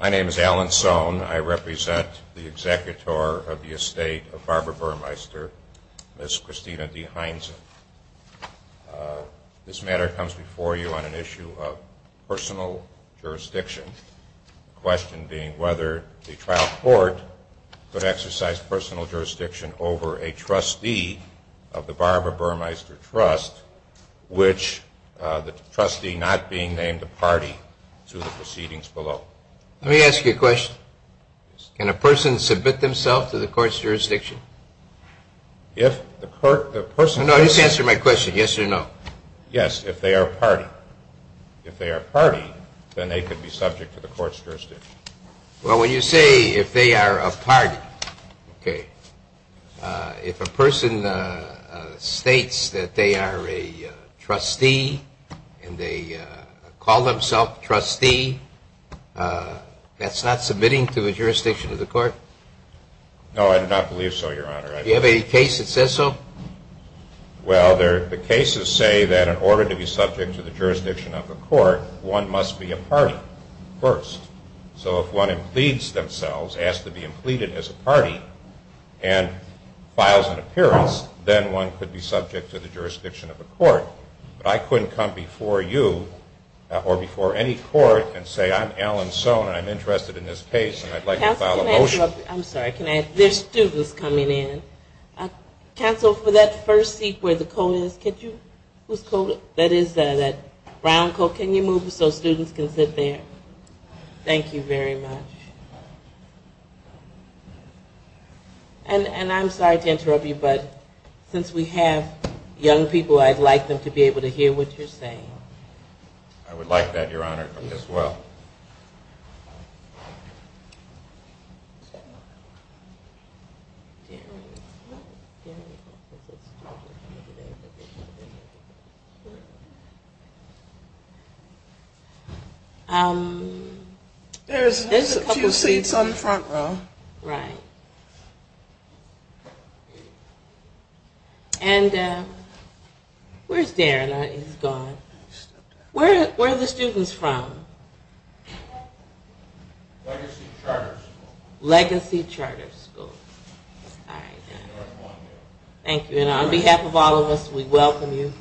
My name is Alan Sohn. I represent the executor of the estate of Barbara Burmeister, Ms. Christina D. Heinzen. This matter comes before you on an issue of personal jurisdiction. The question being whether the trial court could exercise personal jurisdiction over a trustee of the Barbara Burmeister Trust, which the trustee not being named a party to the proceedings below. Let me ask you a question. Can a person submit themselves to the court's jurisdiction? No, just answer my question, yes or no. Yes, if they are a party. If they are a party, then they could be subject to the court's jurisdiction. Well, when you say if they are a party, okay, if a person states that they are a trustee and they call themselves trustee, that's not submitting to a jurisdiction of the court? No, I do not believe so, Your Honor. Do you have a case that says so? Well, the cases say that in order to be subject to the jurisdiction of a court, one must be a party first. So if one pleads themselves, asks to be pleaded as a party and files an appearance, then one could be subject to the jurisdiction of a court. But I couldn't come before you or before any court and say I'm Alan Sohn and I'm interested in this case and I'd like to file a motion. I'm sorry, there are students coming in. Counsel, for that first seat where the coat is, that brown coat, can you move so students can sit there? Thank you very much. And I'm sorry to interrupt you, but since we have young people, I'd like them to be able to hear what you're saying. I would like that, Your Honor, as well. There's a few seats on the front row. Right. And where's Darren? He's gone. Where are the students from? Legacy Charter School. Legacy Charter School. Thank you. And on behalf of all of us, we welcome you.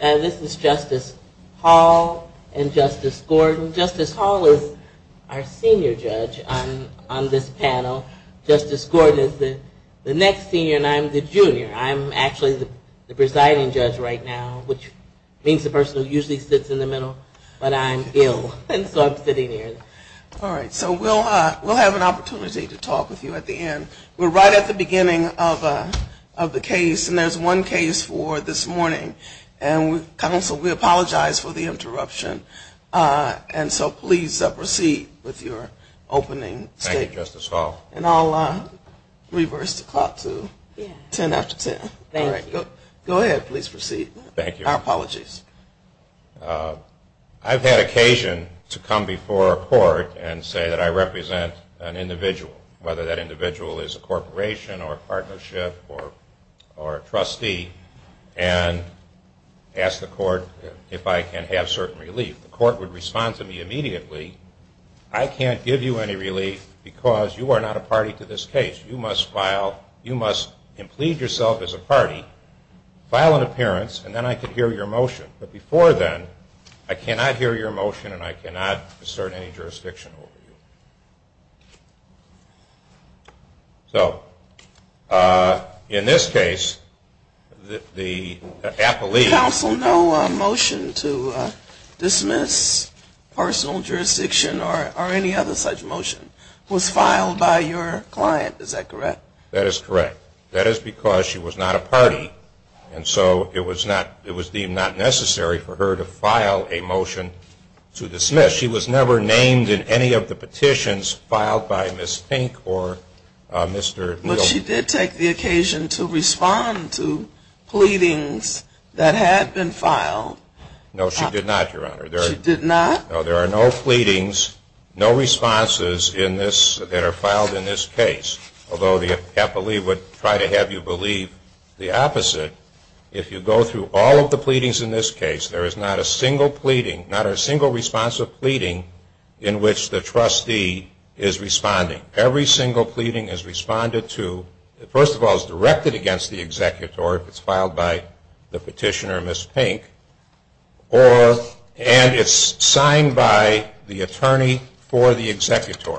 This is Justice Hall and Justice Gordon. Justice Hall is our senior judge on this panel. Justice Gordon is the next senior and I'm the junior. I'm actually the presiding judge right now, which means the person who usually sits in the middle, but I'm ill and so I'm sitting here. All right. So we'll have an opportunity to talk with you at the end. We're right at the beginning of the case and there's one case for this morning. And counsel, we apologize for the interruption. And so please proceed with your opening statement. Thank you, Justice Hall. And I'll reverse the clock to ten after ten. Thank you. Go ahead. Please proceed. Thank you. Our apologies. I've had occasion to come before a court and say that I represent an individual, whether that individual is a corporation or a partnership or a ask the court if I can have certain relief. The court would respond to me immediately, I can't give you any relief because you are not a party to this case. You must file, you must plead yourself as a party, file an appearance, and then I can hear your motion. But before then, I cannot hear your motion and I cannot assert any jurisdiction over you. So in this case, the appellee Counsel, no motion to dismiss personal jurisdiction or any other such motion was filed by your client. Is that correct? That is correct. That is because she was not a party and so it was deemed not necessary for her to file a motion to dismiss. Because she was never named in any of the petitions filed by Ms. Fink or Mr. Neal. But she did take the occasion to respond to pleadings that had been filed. No, she did not, Your Honor. She did not? No, there are no pleadings, no responses in this, that are filed in this case. Although the appellee would try to have you believe the in which the trustee is responding. Every single pleading is responded to, first of all, is directed against the executor if it's filed by the petitioner, Ms. Fink, and it's signed by the attorney for the executor,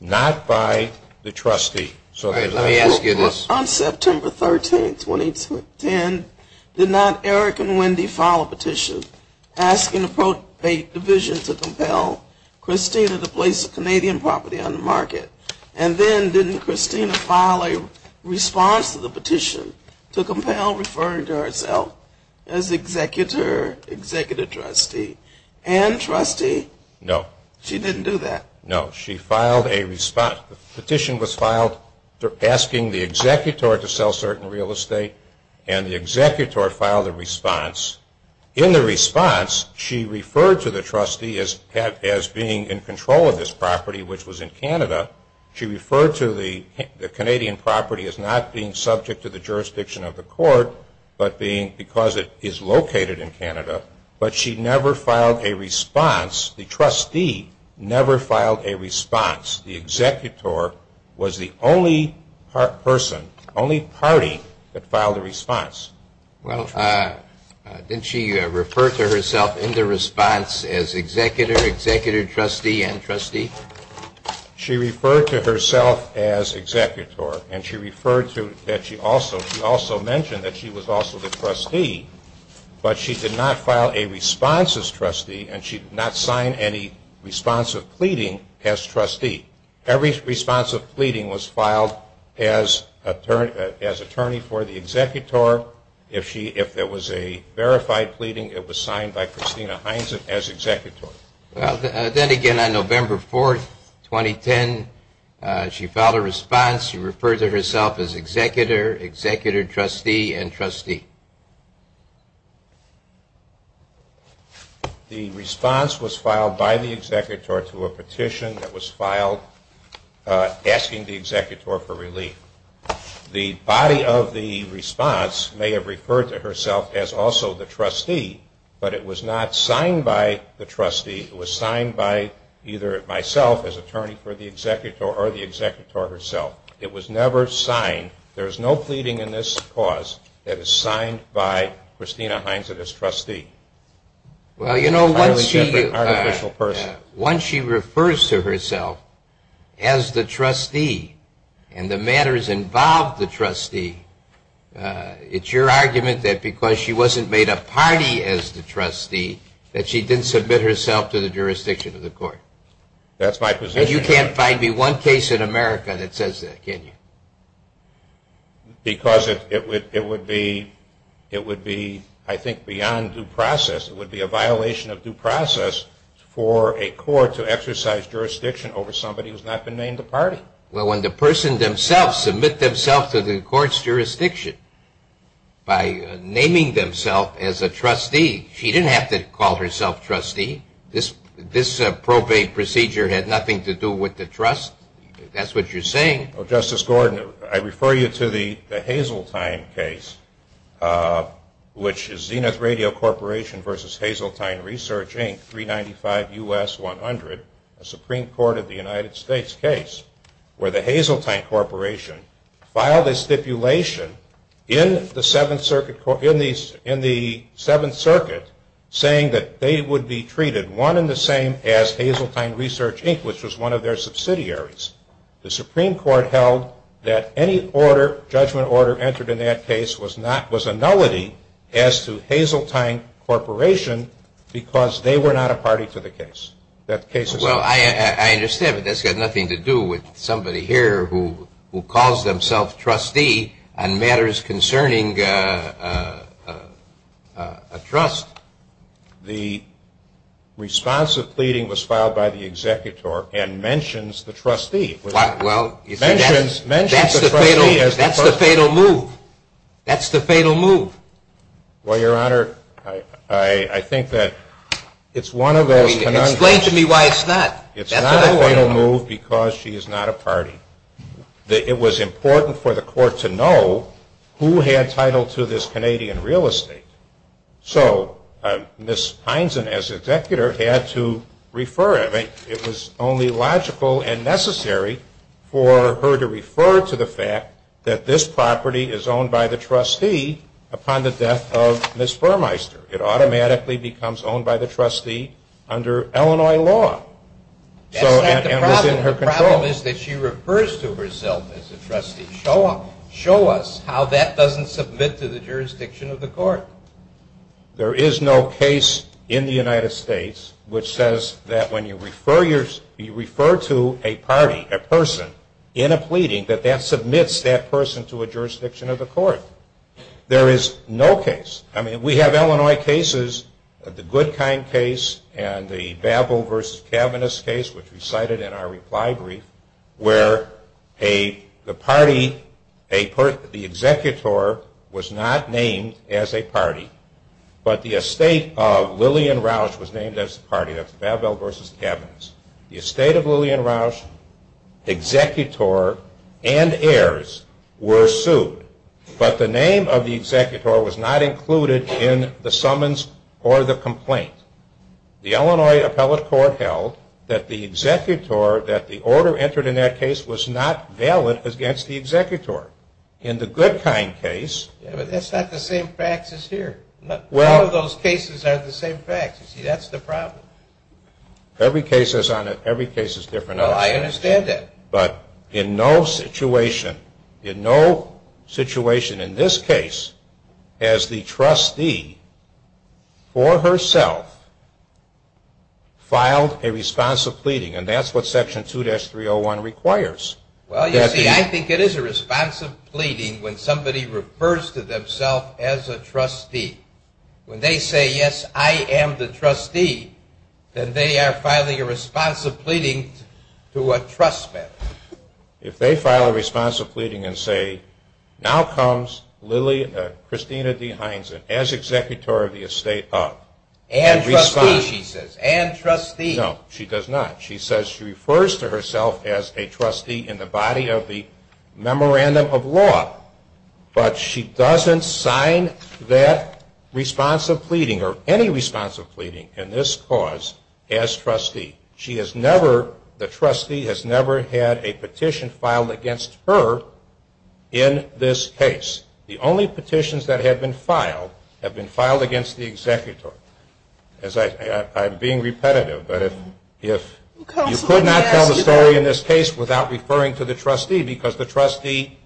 not by the trustee. Let me ask you this. On September 13th, 2010, did not Eric and Wendy file a petition asking a division to compel Christina to place Canadian property on the market? And then didn't Christina file a response to the petition to compel referring to herself as executor, executive trustee and trustee? No. She didn't do that? No, she filed a response. The petition was filed asking the executor to sell certain real estate, and the executor filed a response. In the response, she referred to the trustee as being in control of this property, which was in Canada. She referred to the Canadian property as not being subject to the jurisdiction of the court, but being because it is located in Canada. But she never filed a response. The trustee never filed a response. The executor was the only person, only party that filed a response. Well, didn't she refer to herself in the response as executor, executive trustee and trustee? She referred to herself as executor, and she also mentioned that she was also the trustee. But she did not file a response as trustee, and she did not sign any response of pleading as trustee. Every response of pleading was filed as attorney for the executor. If there was a verified pleading, it was signed by Christina Hines as executor. Then again, on November 4, 2010, she filed a response. She referred to herself as executor, executive trustee and trustee. The response was filed by the executor to a petition that was filed asking the executor for relief. The body of the response may have referred to herself as also the trustee, but it was not signed by the trustee. It was signed by either myself as attorney for the executor or the executor herself. It was never signed. There is no pleading in this cause that is signed by Christina Hines as trustee. Well, you know, once she refers to herself as the trustee and the matters involved the trustee, it's your argument that because she wasn't made a party as the trustee, that she didn't submit herself to the jurisdiction of the court. That's my position. And you can't find me one case in America that says that, can you? Because it would be, I think, beyond due process. It would be a violation of due process for a court to exercise jurisdiction over somebody who has not been named a party. Well, when the person themselves submit themselves to the court's jurisdiction by naming themselves as a trustee, she didn't have to call herself trustee. This probate procedure had nothing to do with the trust. That's what you're saying. Well, Justice Gordon, I refer you to the Hazeltine case, which is Zenith Radio Corporation v. Hazeltine Research, Inc., 395 U.S. 100, a Supreme Court of the United States case, where the Hazeltine Corporation filed a stipulation in the Seventh Circuit saying that they would be treated one and the same as Hazeltine Research, Inc., which was one of their subsidiaries. The Supreme Court held that any judgment order entered in that case was a nullity as to Hazeltine Corporation because they were not a party to the case. Well, I understand, but that's got nothing to do with somebody here who calls themselves trustee on matters concerning a trust. The response of pleading was filed by the executor and mentions the trustee. Well, that's the fatal move. That's the fatal move. Well, Your Honor, I think that it's one of those conundrums. Explain to me why it's not. It's not a fatal move because she is not a party. It was important for the court to know who had title to this Canadian real estate. So Ms. Heinzen as executor had to refer it. It was only logical and necessary for her to refer to the fact that this property is owned by the trustee upon the death of Ms. Burmeister. It automatically becomes owned by the trustee under Illinois law. That's not the problem. The problem is that she refers to herself as a trustee. Show us how that doesn't submit to the jurisdiction of the court. There is no case in the United States which says that when you refer to a party, a person, in a pleading, that that submits that person to a jurisdiction of the court. There is no case. I mean, we have Illinois cases, the Goodkind case and the Babel v. Kavanagh case which we cited in our reply brief where the party, the executor was not named as a party, but the estate of Lillian Roush was named as a party. That's Babel v. Kavanagh. The estate of Lillian Roush, executor and heirs were sued, but the name of the executor was not included in the summons or the complaint. The Illinois appellate court held that the executor, that the order entered in that case was not valid against the executor. In the Goodkind case... But that's not the same facts as here. Well... None of those cases are the same facts. See, that's the problem. Every case is different. Well, I understand that. But in no situation, in no situation in this case has the trustee for herself filed a responsive pleading, and that's what Section 2-301 requires. Well, you see, I think it is a responsive pleading when somebody refers to themself as a trustee. When they say, yes, I am the trustee, then they are filing a responsive pleading to a trustee. If they file a responsive pleading and say, now comes Christina D. Hineson as executor of the estate of... And trustee, she says. And trustee. No, she does not. She says she refers to herself as a trustee in the body of the memorandum of law. But she doesn't sign that responsive pleading or any responsive pleading in this cause as trustee. She has never, the trustee has never had a petition filed against her in this case. The only petitions that have been filed have been filed against the executor. I'm being repetitive, but if you could not tell the story in this case without referring to the trustee, because the trustee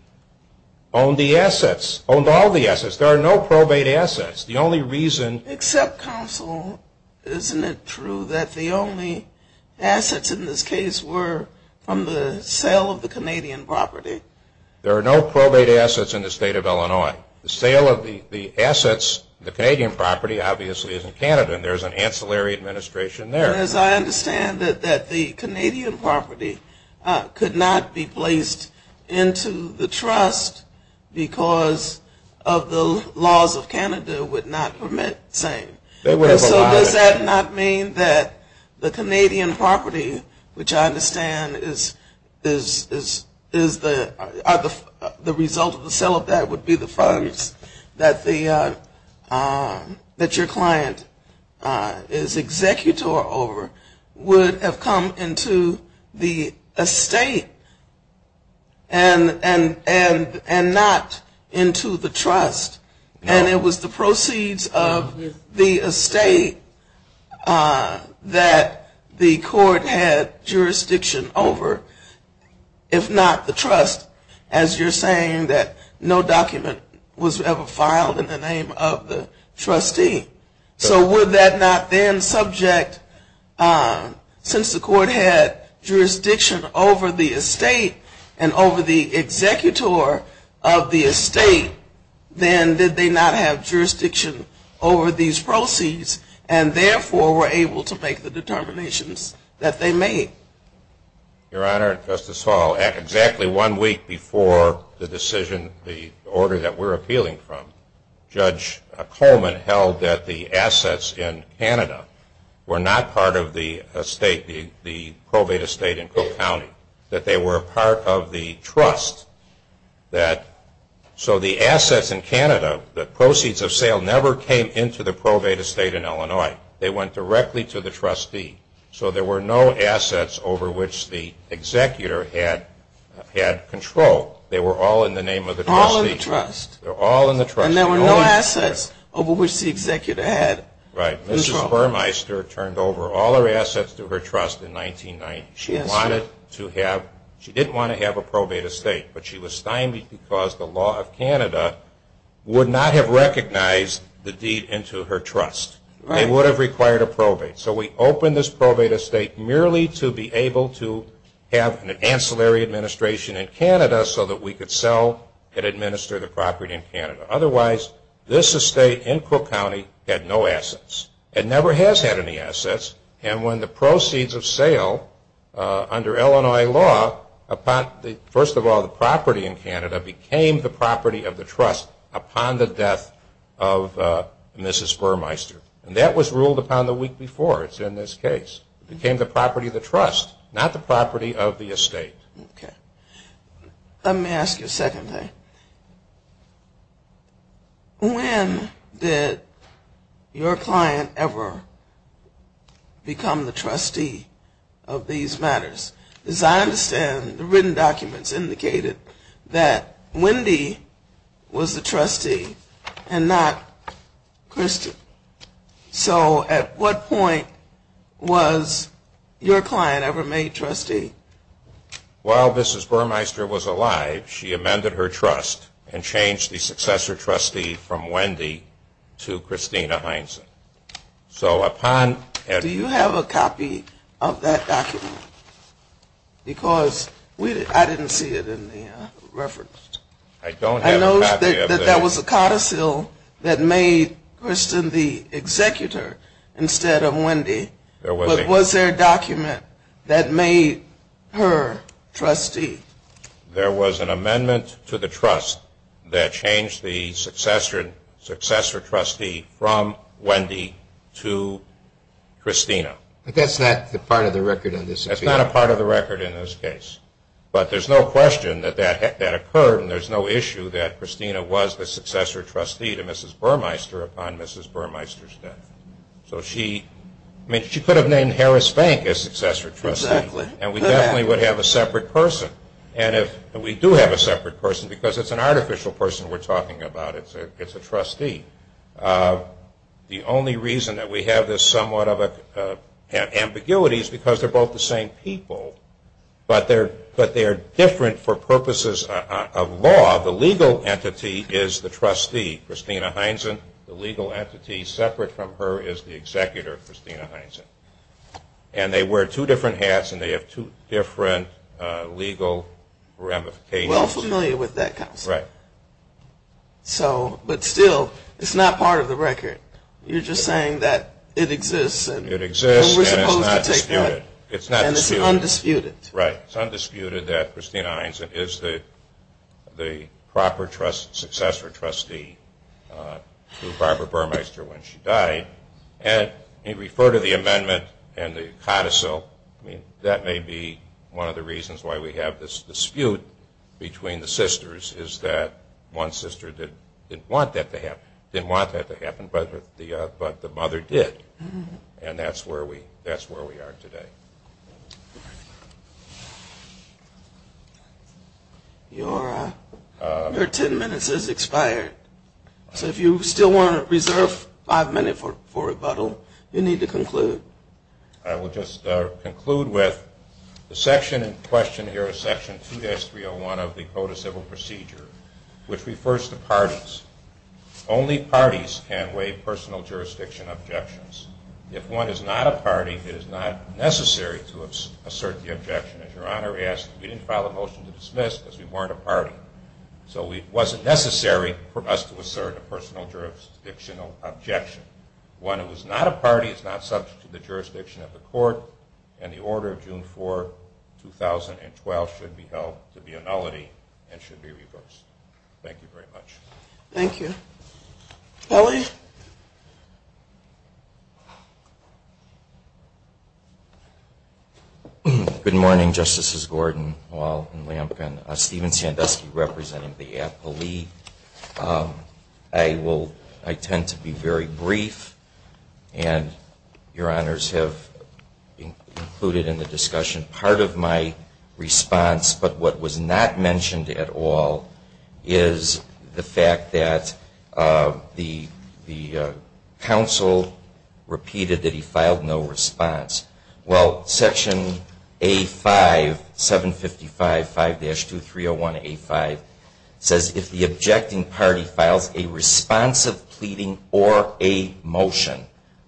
owned the assets, owned all the assets. There are no probate assets. The only reason... Except counsel, isn't it true that the only assets in this case were from the sale of the Canadian property? There are no probate assets in the state of Illinois. The sale of the assets, the Canadian property, obviously is in Canada. And there's an ancillary administration there. As I understand it, that the Canadian property could not be placed into the trust because of the laws of Canada would not permit the same. So does that not mean that the Canadian property, which I understand is the result of the sale of that would be the funds that the, that your client is executor over, would have come into the estate and not into the trust? And it was the proceeds of the estate that the court had jurisdiction over, if not the trust, as you're saying that no document was ever filed in the name of the trustee. So would that not then subject, since the court had jurisdiction over the estate and over the executor of the estate, then did they not have jurisdiction over these proceeds and therefore were able to make the determinations that they made? Your Honor, Justice Hall, exactly one week before the decision, the order that we're appealing from, Judge Coleman held that the assets in Canada were not part of the estate, the probate estate in Cook County, that they were a part of the trust that, so the assets in Canada, the proceeds of sale never came into the probate estate in Illinois. They went directly to the trustee. So there were no assets over which the executor had control. They were all in the name of the trustee. All in the trust. They were all in the trust. And there were no assets over which the executor had control. Right. Mrs. Burmeister turned over all her assets to her trust in 1990. She wanted to have, she didn't want to have a probate estate, but she was stymied because the law of Canada would not have recognized the deed into her trust. They would have required a probate. So we opened this probate estate merely to be able to have an ancillary administration in Canada so that we could sell and administer the property in Canada. Otherwise, this estate in Cook County had no assets. It never has had any assets. And when the proceeds of sale under Illinois law, first of all, the property in Canada became the property of the trust upon the death of Mrs. Burmeister. And that was ruled upon the week before. It's in this case. It became the property of the trust, not the property of the estate. Okay. Let me ask you a second thing. When did your client ever become the trustee of these matters? As I understand, the written documents indicated that Wendy was the trustee and not Kristen. So at what point was your client ever made trustee? While Mrs. Burmeister was alive, she amended her trust and changed the successor trustee from Wendy to Christina Heinzen. Do you have a copy of that document? Because I didn't see it in the reference. I don't have a copy of it. I know that there was a codicil that made Kristen the executor instead of Wendy. But was there a document that made her trustee? There was an amendment to the trust that changed the successor trustee from Wendy to Christina. But that's not a part of the record in this case. That's not a part of the record in this case. But there's no question that that occurred, and there's no issue that Christina was the successor trustee to Mrs. Burmeister upon Mrs. Burmeister's death. So she could have named Harris Bank as successor trustee, and we definitely would have a separate person. And we do have a separate person because it's an artificial person we're talking about. It's a trustee. The only reason that we have this somewhat of an ambiguity is because they're both the same people, but they are different for purposes of law. The legal entity is the trustee, Christina Heinzen. The legal entity separate from her is the executor, Christina Heinzen. And they wear two different hats, and they have two different legal ramifications. We're all familiar with that, Counselor. Right. But still, it's not part of the record. You're just saying that it exists. It exists, and it's not disputed. And it's undisputed. Right. It's undisputed that Christina Heinzen is the proper successor trustee to Barbara Burmeister when she died. And you refer to the amendment and the codicil. That may be one of the reasons why we have this dispute between the sisters, is that one sister didn't want that to happen, but the mother did. And that's where we are today. Your ten minutes has expired. So if you still want to reserve five minutes for rebuttal, you need to conclude. I will just conclude with the section in question here, Section 2-301 of the Codicil Procedure, which refers to parties. Only parties can waive personal jurisdiction objections. If one is not a party, it is not necessary to assert the objection. As Your Honor asked, we didn't file a motion to dismiss because we weren't a party. So it wasn't necessary for us to assert a personal jurisdictional objection. One who is not a party is not subject to the jurisdiction of the court, and the order of June 4, 2012 should be held to be a nullity and should be reversed. Thank you very much. Thank you. Kelly? Good morning, Justices Gordon, Wahl, and Lampkin. Stephen Sandusky representing the APA League. I tend to be very brief, and Your Honors have included in the discussion part of my response, but what was not mentioned at all is the fact that the counsel repeated that he filed no response. Well, Section A-5, 755-5-2301A-5 says, if the objecting party files a response of pleading or a motion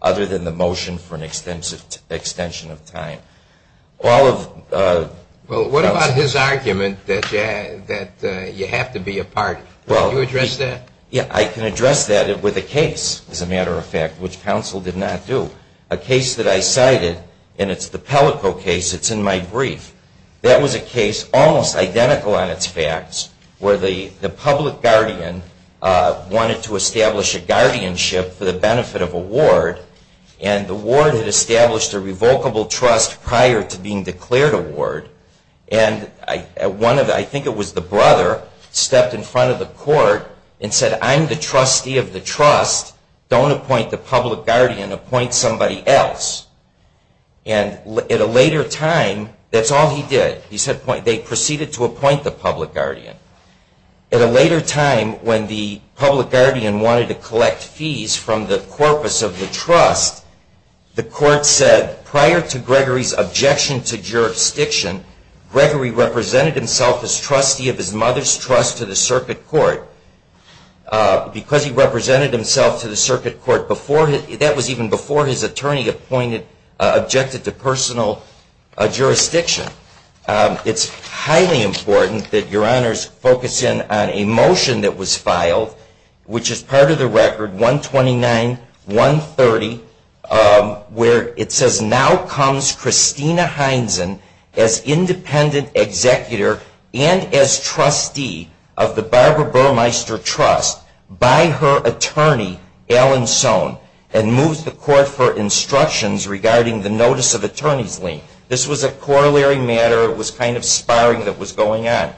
other than the motion for an extension of time, Well, what about his argument that you have to be a party? Can you address that? Yeah, I can address that with a case, as a matter of fact, which counsel did not do. A case that I cited, and it's the Pellico case. It's in my brief. That was a case almost identical on its facts where the public guardian wanted to establish a guardianship for the benefit of a ward, and the ward had established a revocable trust prior to being declared a ward, and I think it was the brother stepped in front of the court and said, I'm the trustee of the trust. Don't appoint the public guardian. Appoint somebody else. And at a later time, that's all he did. He said they proceeded to appoint the public guardian. At a later time, when the public guardian wanted to collect fees from the corpus of the trust, the court said prior to Gregory's objection to jurisdiction, Gregory represented himself as trustee of his mother's trust to the circuit court. Because he represented himself to the circuit court, that was even before his attorney objected to personal jurisdiction. It's highly important that your honors focus in on a motion that was filed, which is part of the record 129-130, where it says, now comes Christina Heinzen as independent executor and as trustee of the Barbara Burmeister Trust by her attorney, Alan Sohn, and moves the court for instructions regarding the notice of attorney's lien. This was a corollary matter. It was kind of sparring that was going on.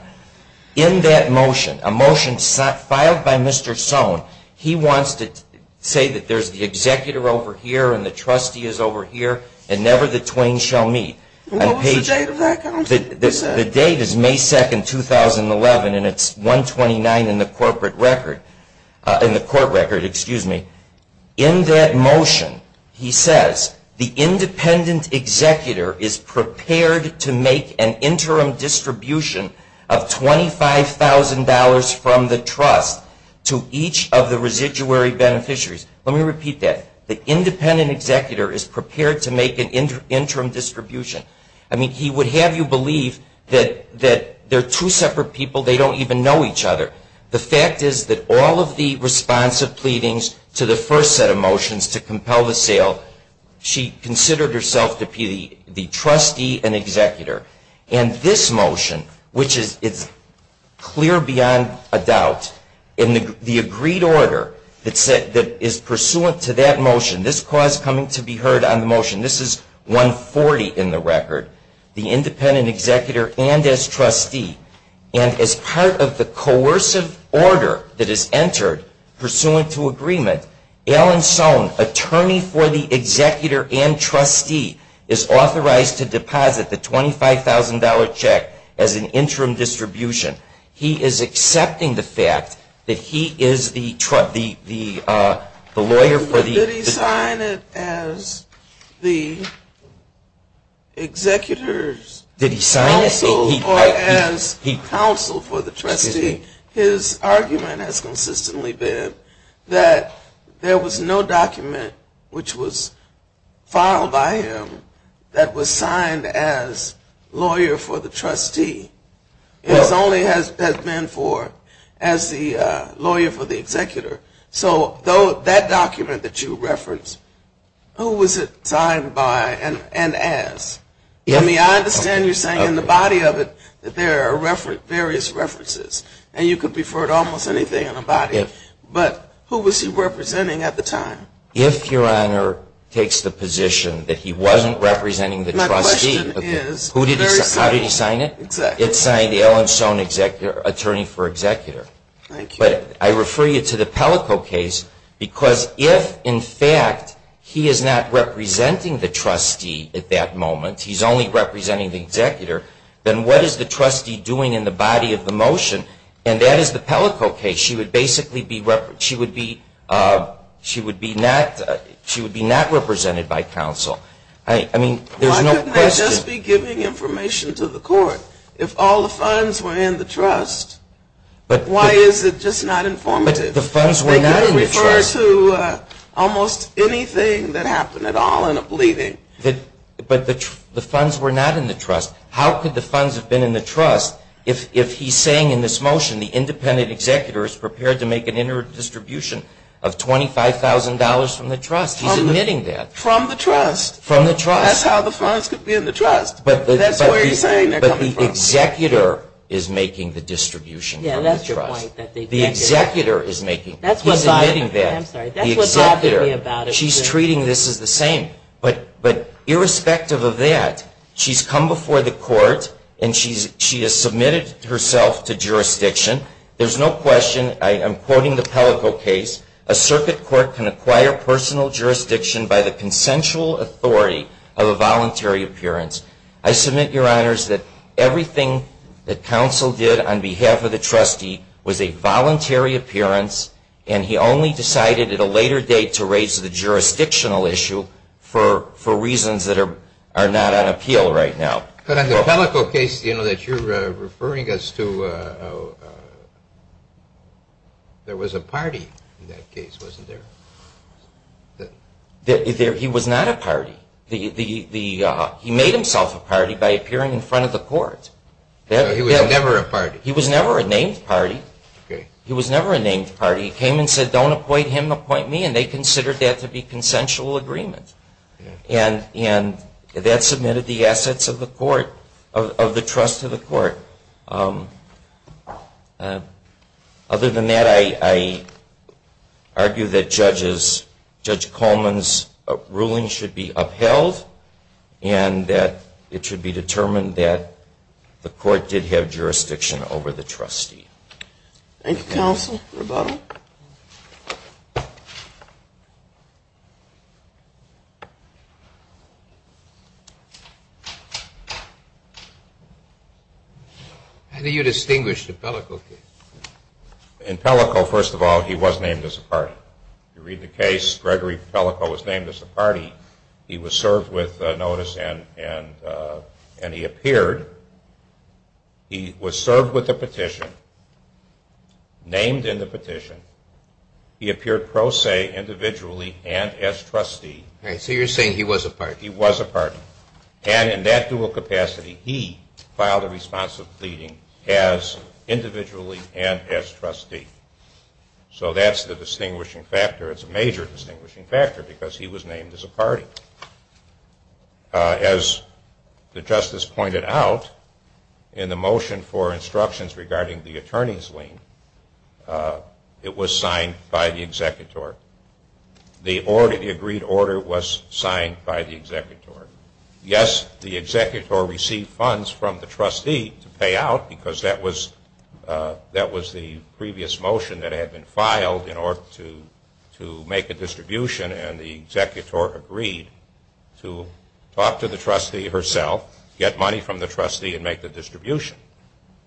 In that motion, a motion filed by Mr. Sohn, he wants to say that there's the executor over here and the trustee is over here and never the twain shall meet. What was the date of that? The date is May 2, 2011, and it's 129 in the court record. In that motion, he says, the independent executor is prepared to make an interim distribution of $25,000 from the trust to each of the residuary beneficiaries. Let me repeat that. The independent executor is prepared to make an interim distribution. He would have you believe that they're two separate people. They don't even know each other. The fact is that all of the responsive pleadings to the first set of motions to compel the sale, she considered herself to be the trustee and executor. And this motion, which is clear beyond a doubt, in the agreed order that is pursuant to that motion, this clause coming to be heard on the motion, this is 140 in the record, the independent executor and as trustee. And as part of the coercive order that is entered pursuant to agreement, Alan Sohn, attorney for the executor and trustee, is authorized to deposit the $25,000 check as an interim distribution. He is accepting the fact that he is the lawyer for the- Did he sign it as the executor's counsel or as counsel for the trustee? His argument has consistently been that there was no document which was filed by him that was signed as lawyer for the trustee. It only has been for as the lawyer for the executor. So that document that you referenced, who was it signed by and as? I understand you're saying in the body of it that there are various references and you could refer to almost anything in the body. But who was he representing at the time? If Your Honor takes the position that he wasn't representing the trustee- My question is- How did he sign it? It's signed Alan Sohn, attorney for executor. But I refer you to the Pellico case because if in fact he is not representing the trustee at that moment, he's only representing the executor, then what is the trustee doing in the body of the motion? And that is the Pellico case. She would basically be not represented by counsel. I mean, there's no question- Why couldn't they just be giving information to the court if all the funds were in the trust? Why is it just not informative? But the funds were not in the trust. They could refer to almost anything that happened at all in a bleeding. But the funds were not in the trust. How could the funds have been in the trust if he's saying in this motion the independent executor is prepared to make an inter-distribution of $25,000 from the trust? He's admitting that. From the trust. From the trust. That's how the funds could be in the trust. That's where he's saying they're coming from. But the executor is making the distribution from the trust. Yeah, that's your point. The executor is making- That's what I'm- He's admitting that. I'm sorry. That's what I'm talking about. The executor. She's treating this as the same. But irrespective of that, she's come before the court, and she has submitted herself to jurisdiction. There's no question. I am quoting the Pellico case. A circuit court can acquire personal jurisdiction by the consensual authority of a voluntary appearance. I submit, Your Honors, that everything that counsel did on behalf of the trustee was a voluntary appearance, and he only decided at a later date to raise the jurisdictional issue for reasons that are not on appeal right now. But on the Pellico case that you're referring us to, there was a party in that case, wasn't there? He was not a party. He made himself a party by appearing in front of the court. He was never a party. He was never a named party. He was never a named party. He came and said, don't appoint him, appoint me, and they considered that to be consensual agreement. Other than that, I argue that Judge Coleman's ruling should be upheld, and that it should be determined that the court did have jurisdiction over the trustee. Thank you, counsel. Rebuttal. How do you distinguish the Pellico case? In Pellico, first of all, he was named as a party. If you read the case, Gregory Pellico was named as a party. He was served with notice, and he appeared. He was served with a petition, named in the petition. He appeared pro se, individually, and as trustee. So you're saying he was a party. He was a party. And in that dual capacity, he filed a response of pleading as individually and as trustee. So that's the distinguishing factor. It's a major distinguishing factor because he was named as a party. As the justice pointed out, in the motion for instructions regarding the attorney's lien, it was signed by the executor. The agreed order was signed by the executor. Yes, the executor received funds from the trustee to pay out, because that was the previous motion that had been filed in order to make a distribution, and the executor agreed to talk to the trustee herself, get money from the trustee, and make the distribution.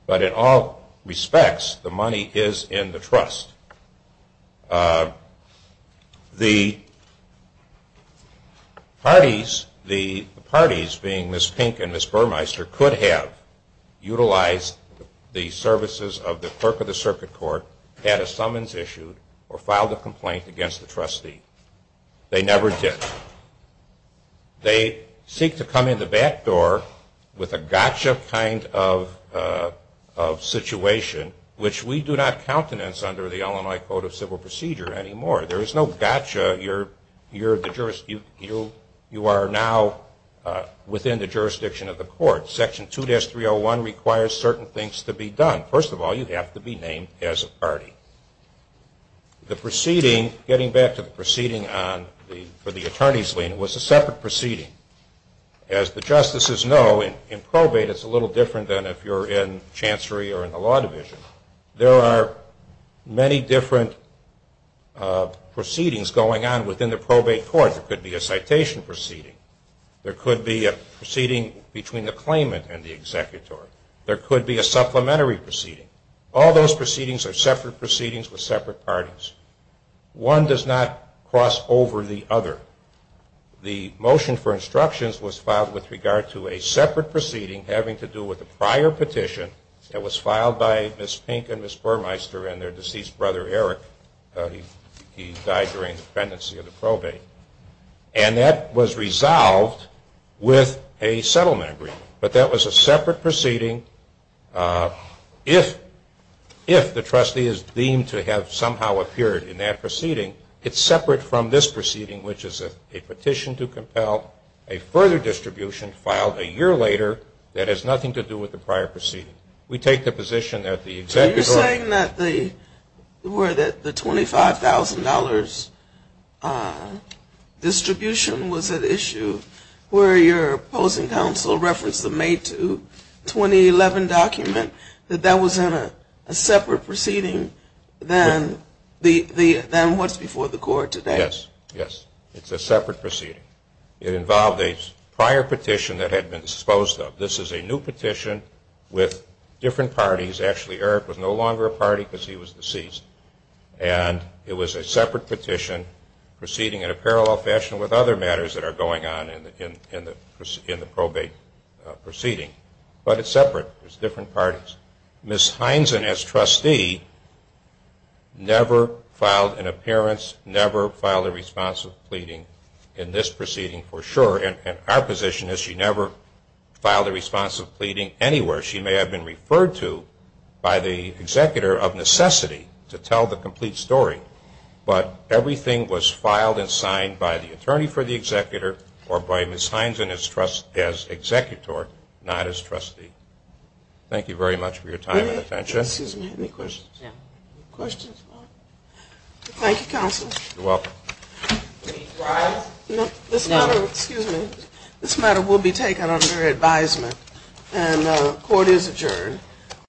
But in all respects, the money is in the trust. The parties, the parties being Ms. Pink and Ms. Burmeister, could have utilized the services of the clerk of the circuit court, had a summons issued, or filed a complaint against the trustee. They never did. They seek to come in the back door with a gotcha kind of situation, which we do not countenance under the Illinois Code of Civil Procedure anymore. There is no gotcha. You are now within the jurisdiction of the court. Section 2-301 requires certain things to be done. First of all, you have to be named as a party. The proceeding, getting back to the proceeding for the attorney's lien, was a separate proceeding. As the justices know, in probate it's a little different than if you're in chancery or in the law division. There are many different proceedings going on within the probate court. There could be a citation proceeding. There could be a proceeding between the claimant and the executor. There could be a supplementary proceeding. All those proceedings are separate proceedings with separate parties. One does not cross over the other. The motion for instructions was filed with regard to a separate proceeding having to do with a prior petition that was filed by Ms. Pink and Ms. Burmeister and their deceased brother Eric. He died during the pendency of the probate. And that was resolved with a settlement agreement. But that was a separate proceeding. If the trustee is deemed to have somehow appeared in that proceeding, it's separate from this proceeding, which is a petition to compel, a further distribution filed a year later that has nothing to do with the prior proceeding. We take the position that the executor Are you saying that the $25,000 distribution was at issue where your opposing counsel referenced the May 2, 2011 document, that that was in a separate proceeding than what's before the court today? Yes. It's a separate proceeding. It involved a prior petition that had been disposed of. This is a new petition with different parties. Actually, Eric was no longer a party because he was deceased. And it was a separate petition proceeding in a parallel fashion with other matters that are going on in the probate proceeding. But it's separate. It's different parties. Ms. Heinzen, as trustee, never filed an appearance, never filed a response of pleading in this proceeding for sure. And our position is she never filed a response of pleading anywhere. She may have been referred to by the executor of necessity to tell the complete story. But everything was filed and signed by the attorney for the executor or by Ms. Heinzen as executor, not as trustee. Thank you very much for your time and attention. Excuse me. Any questions? Questions? Thank you, counsel. You're welcome. This matter will be taken under advisement. And the court is adjourned.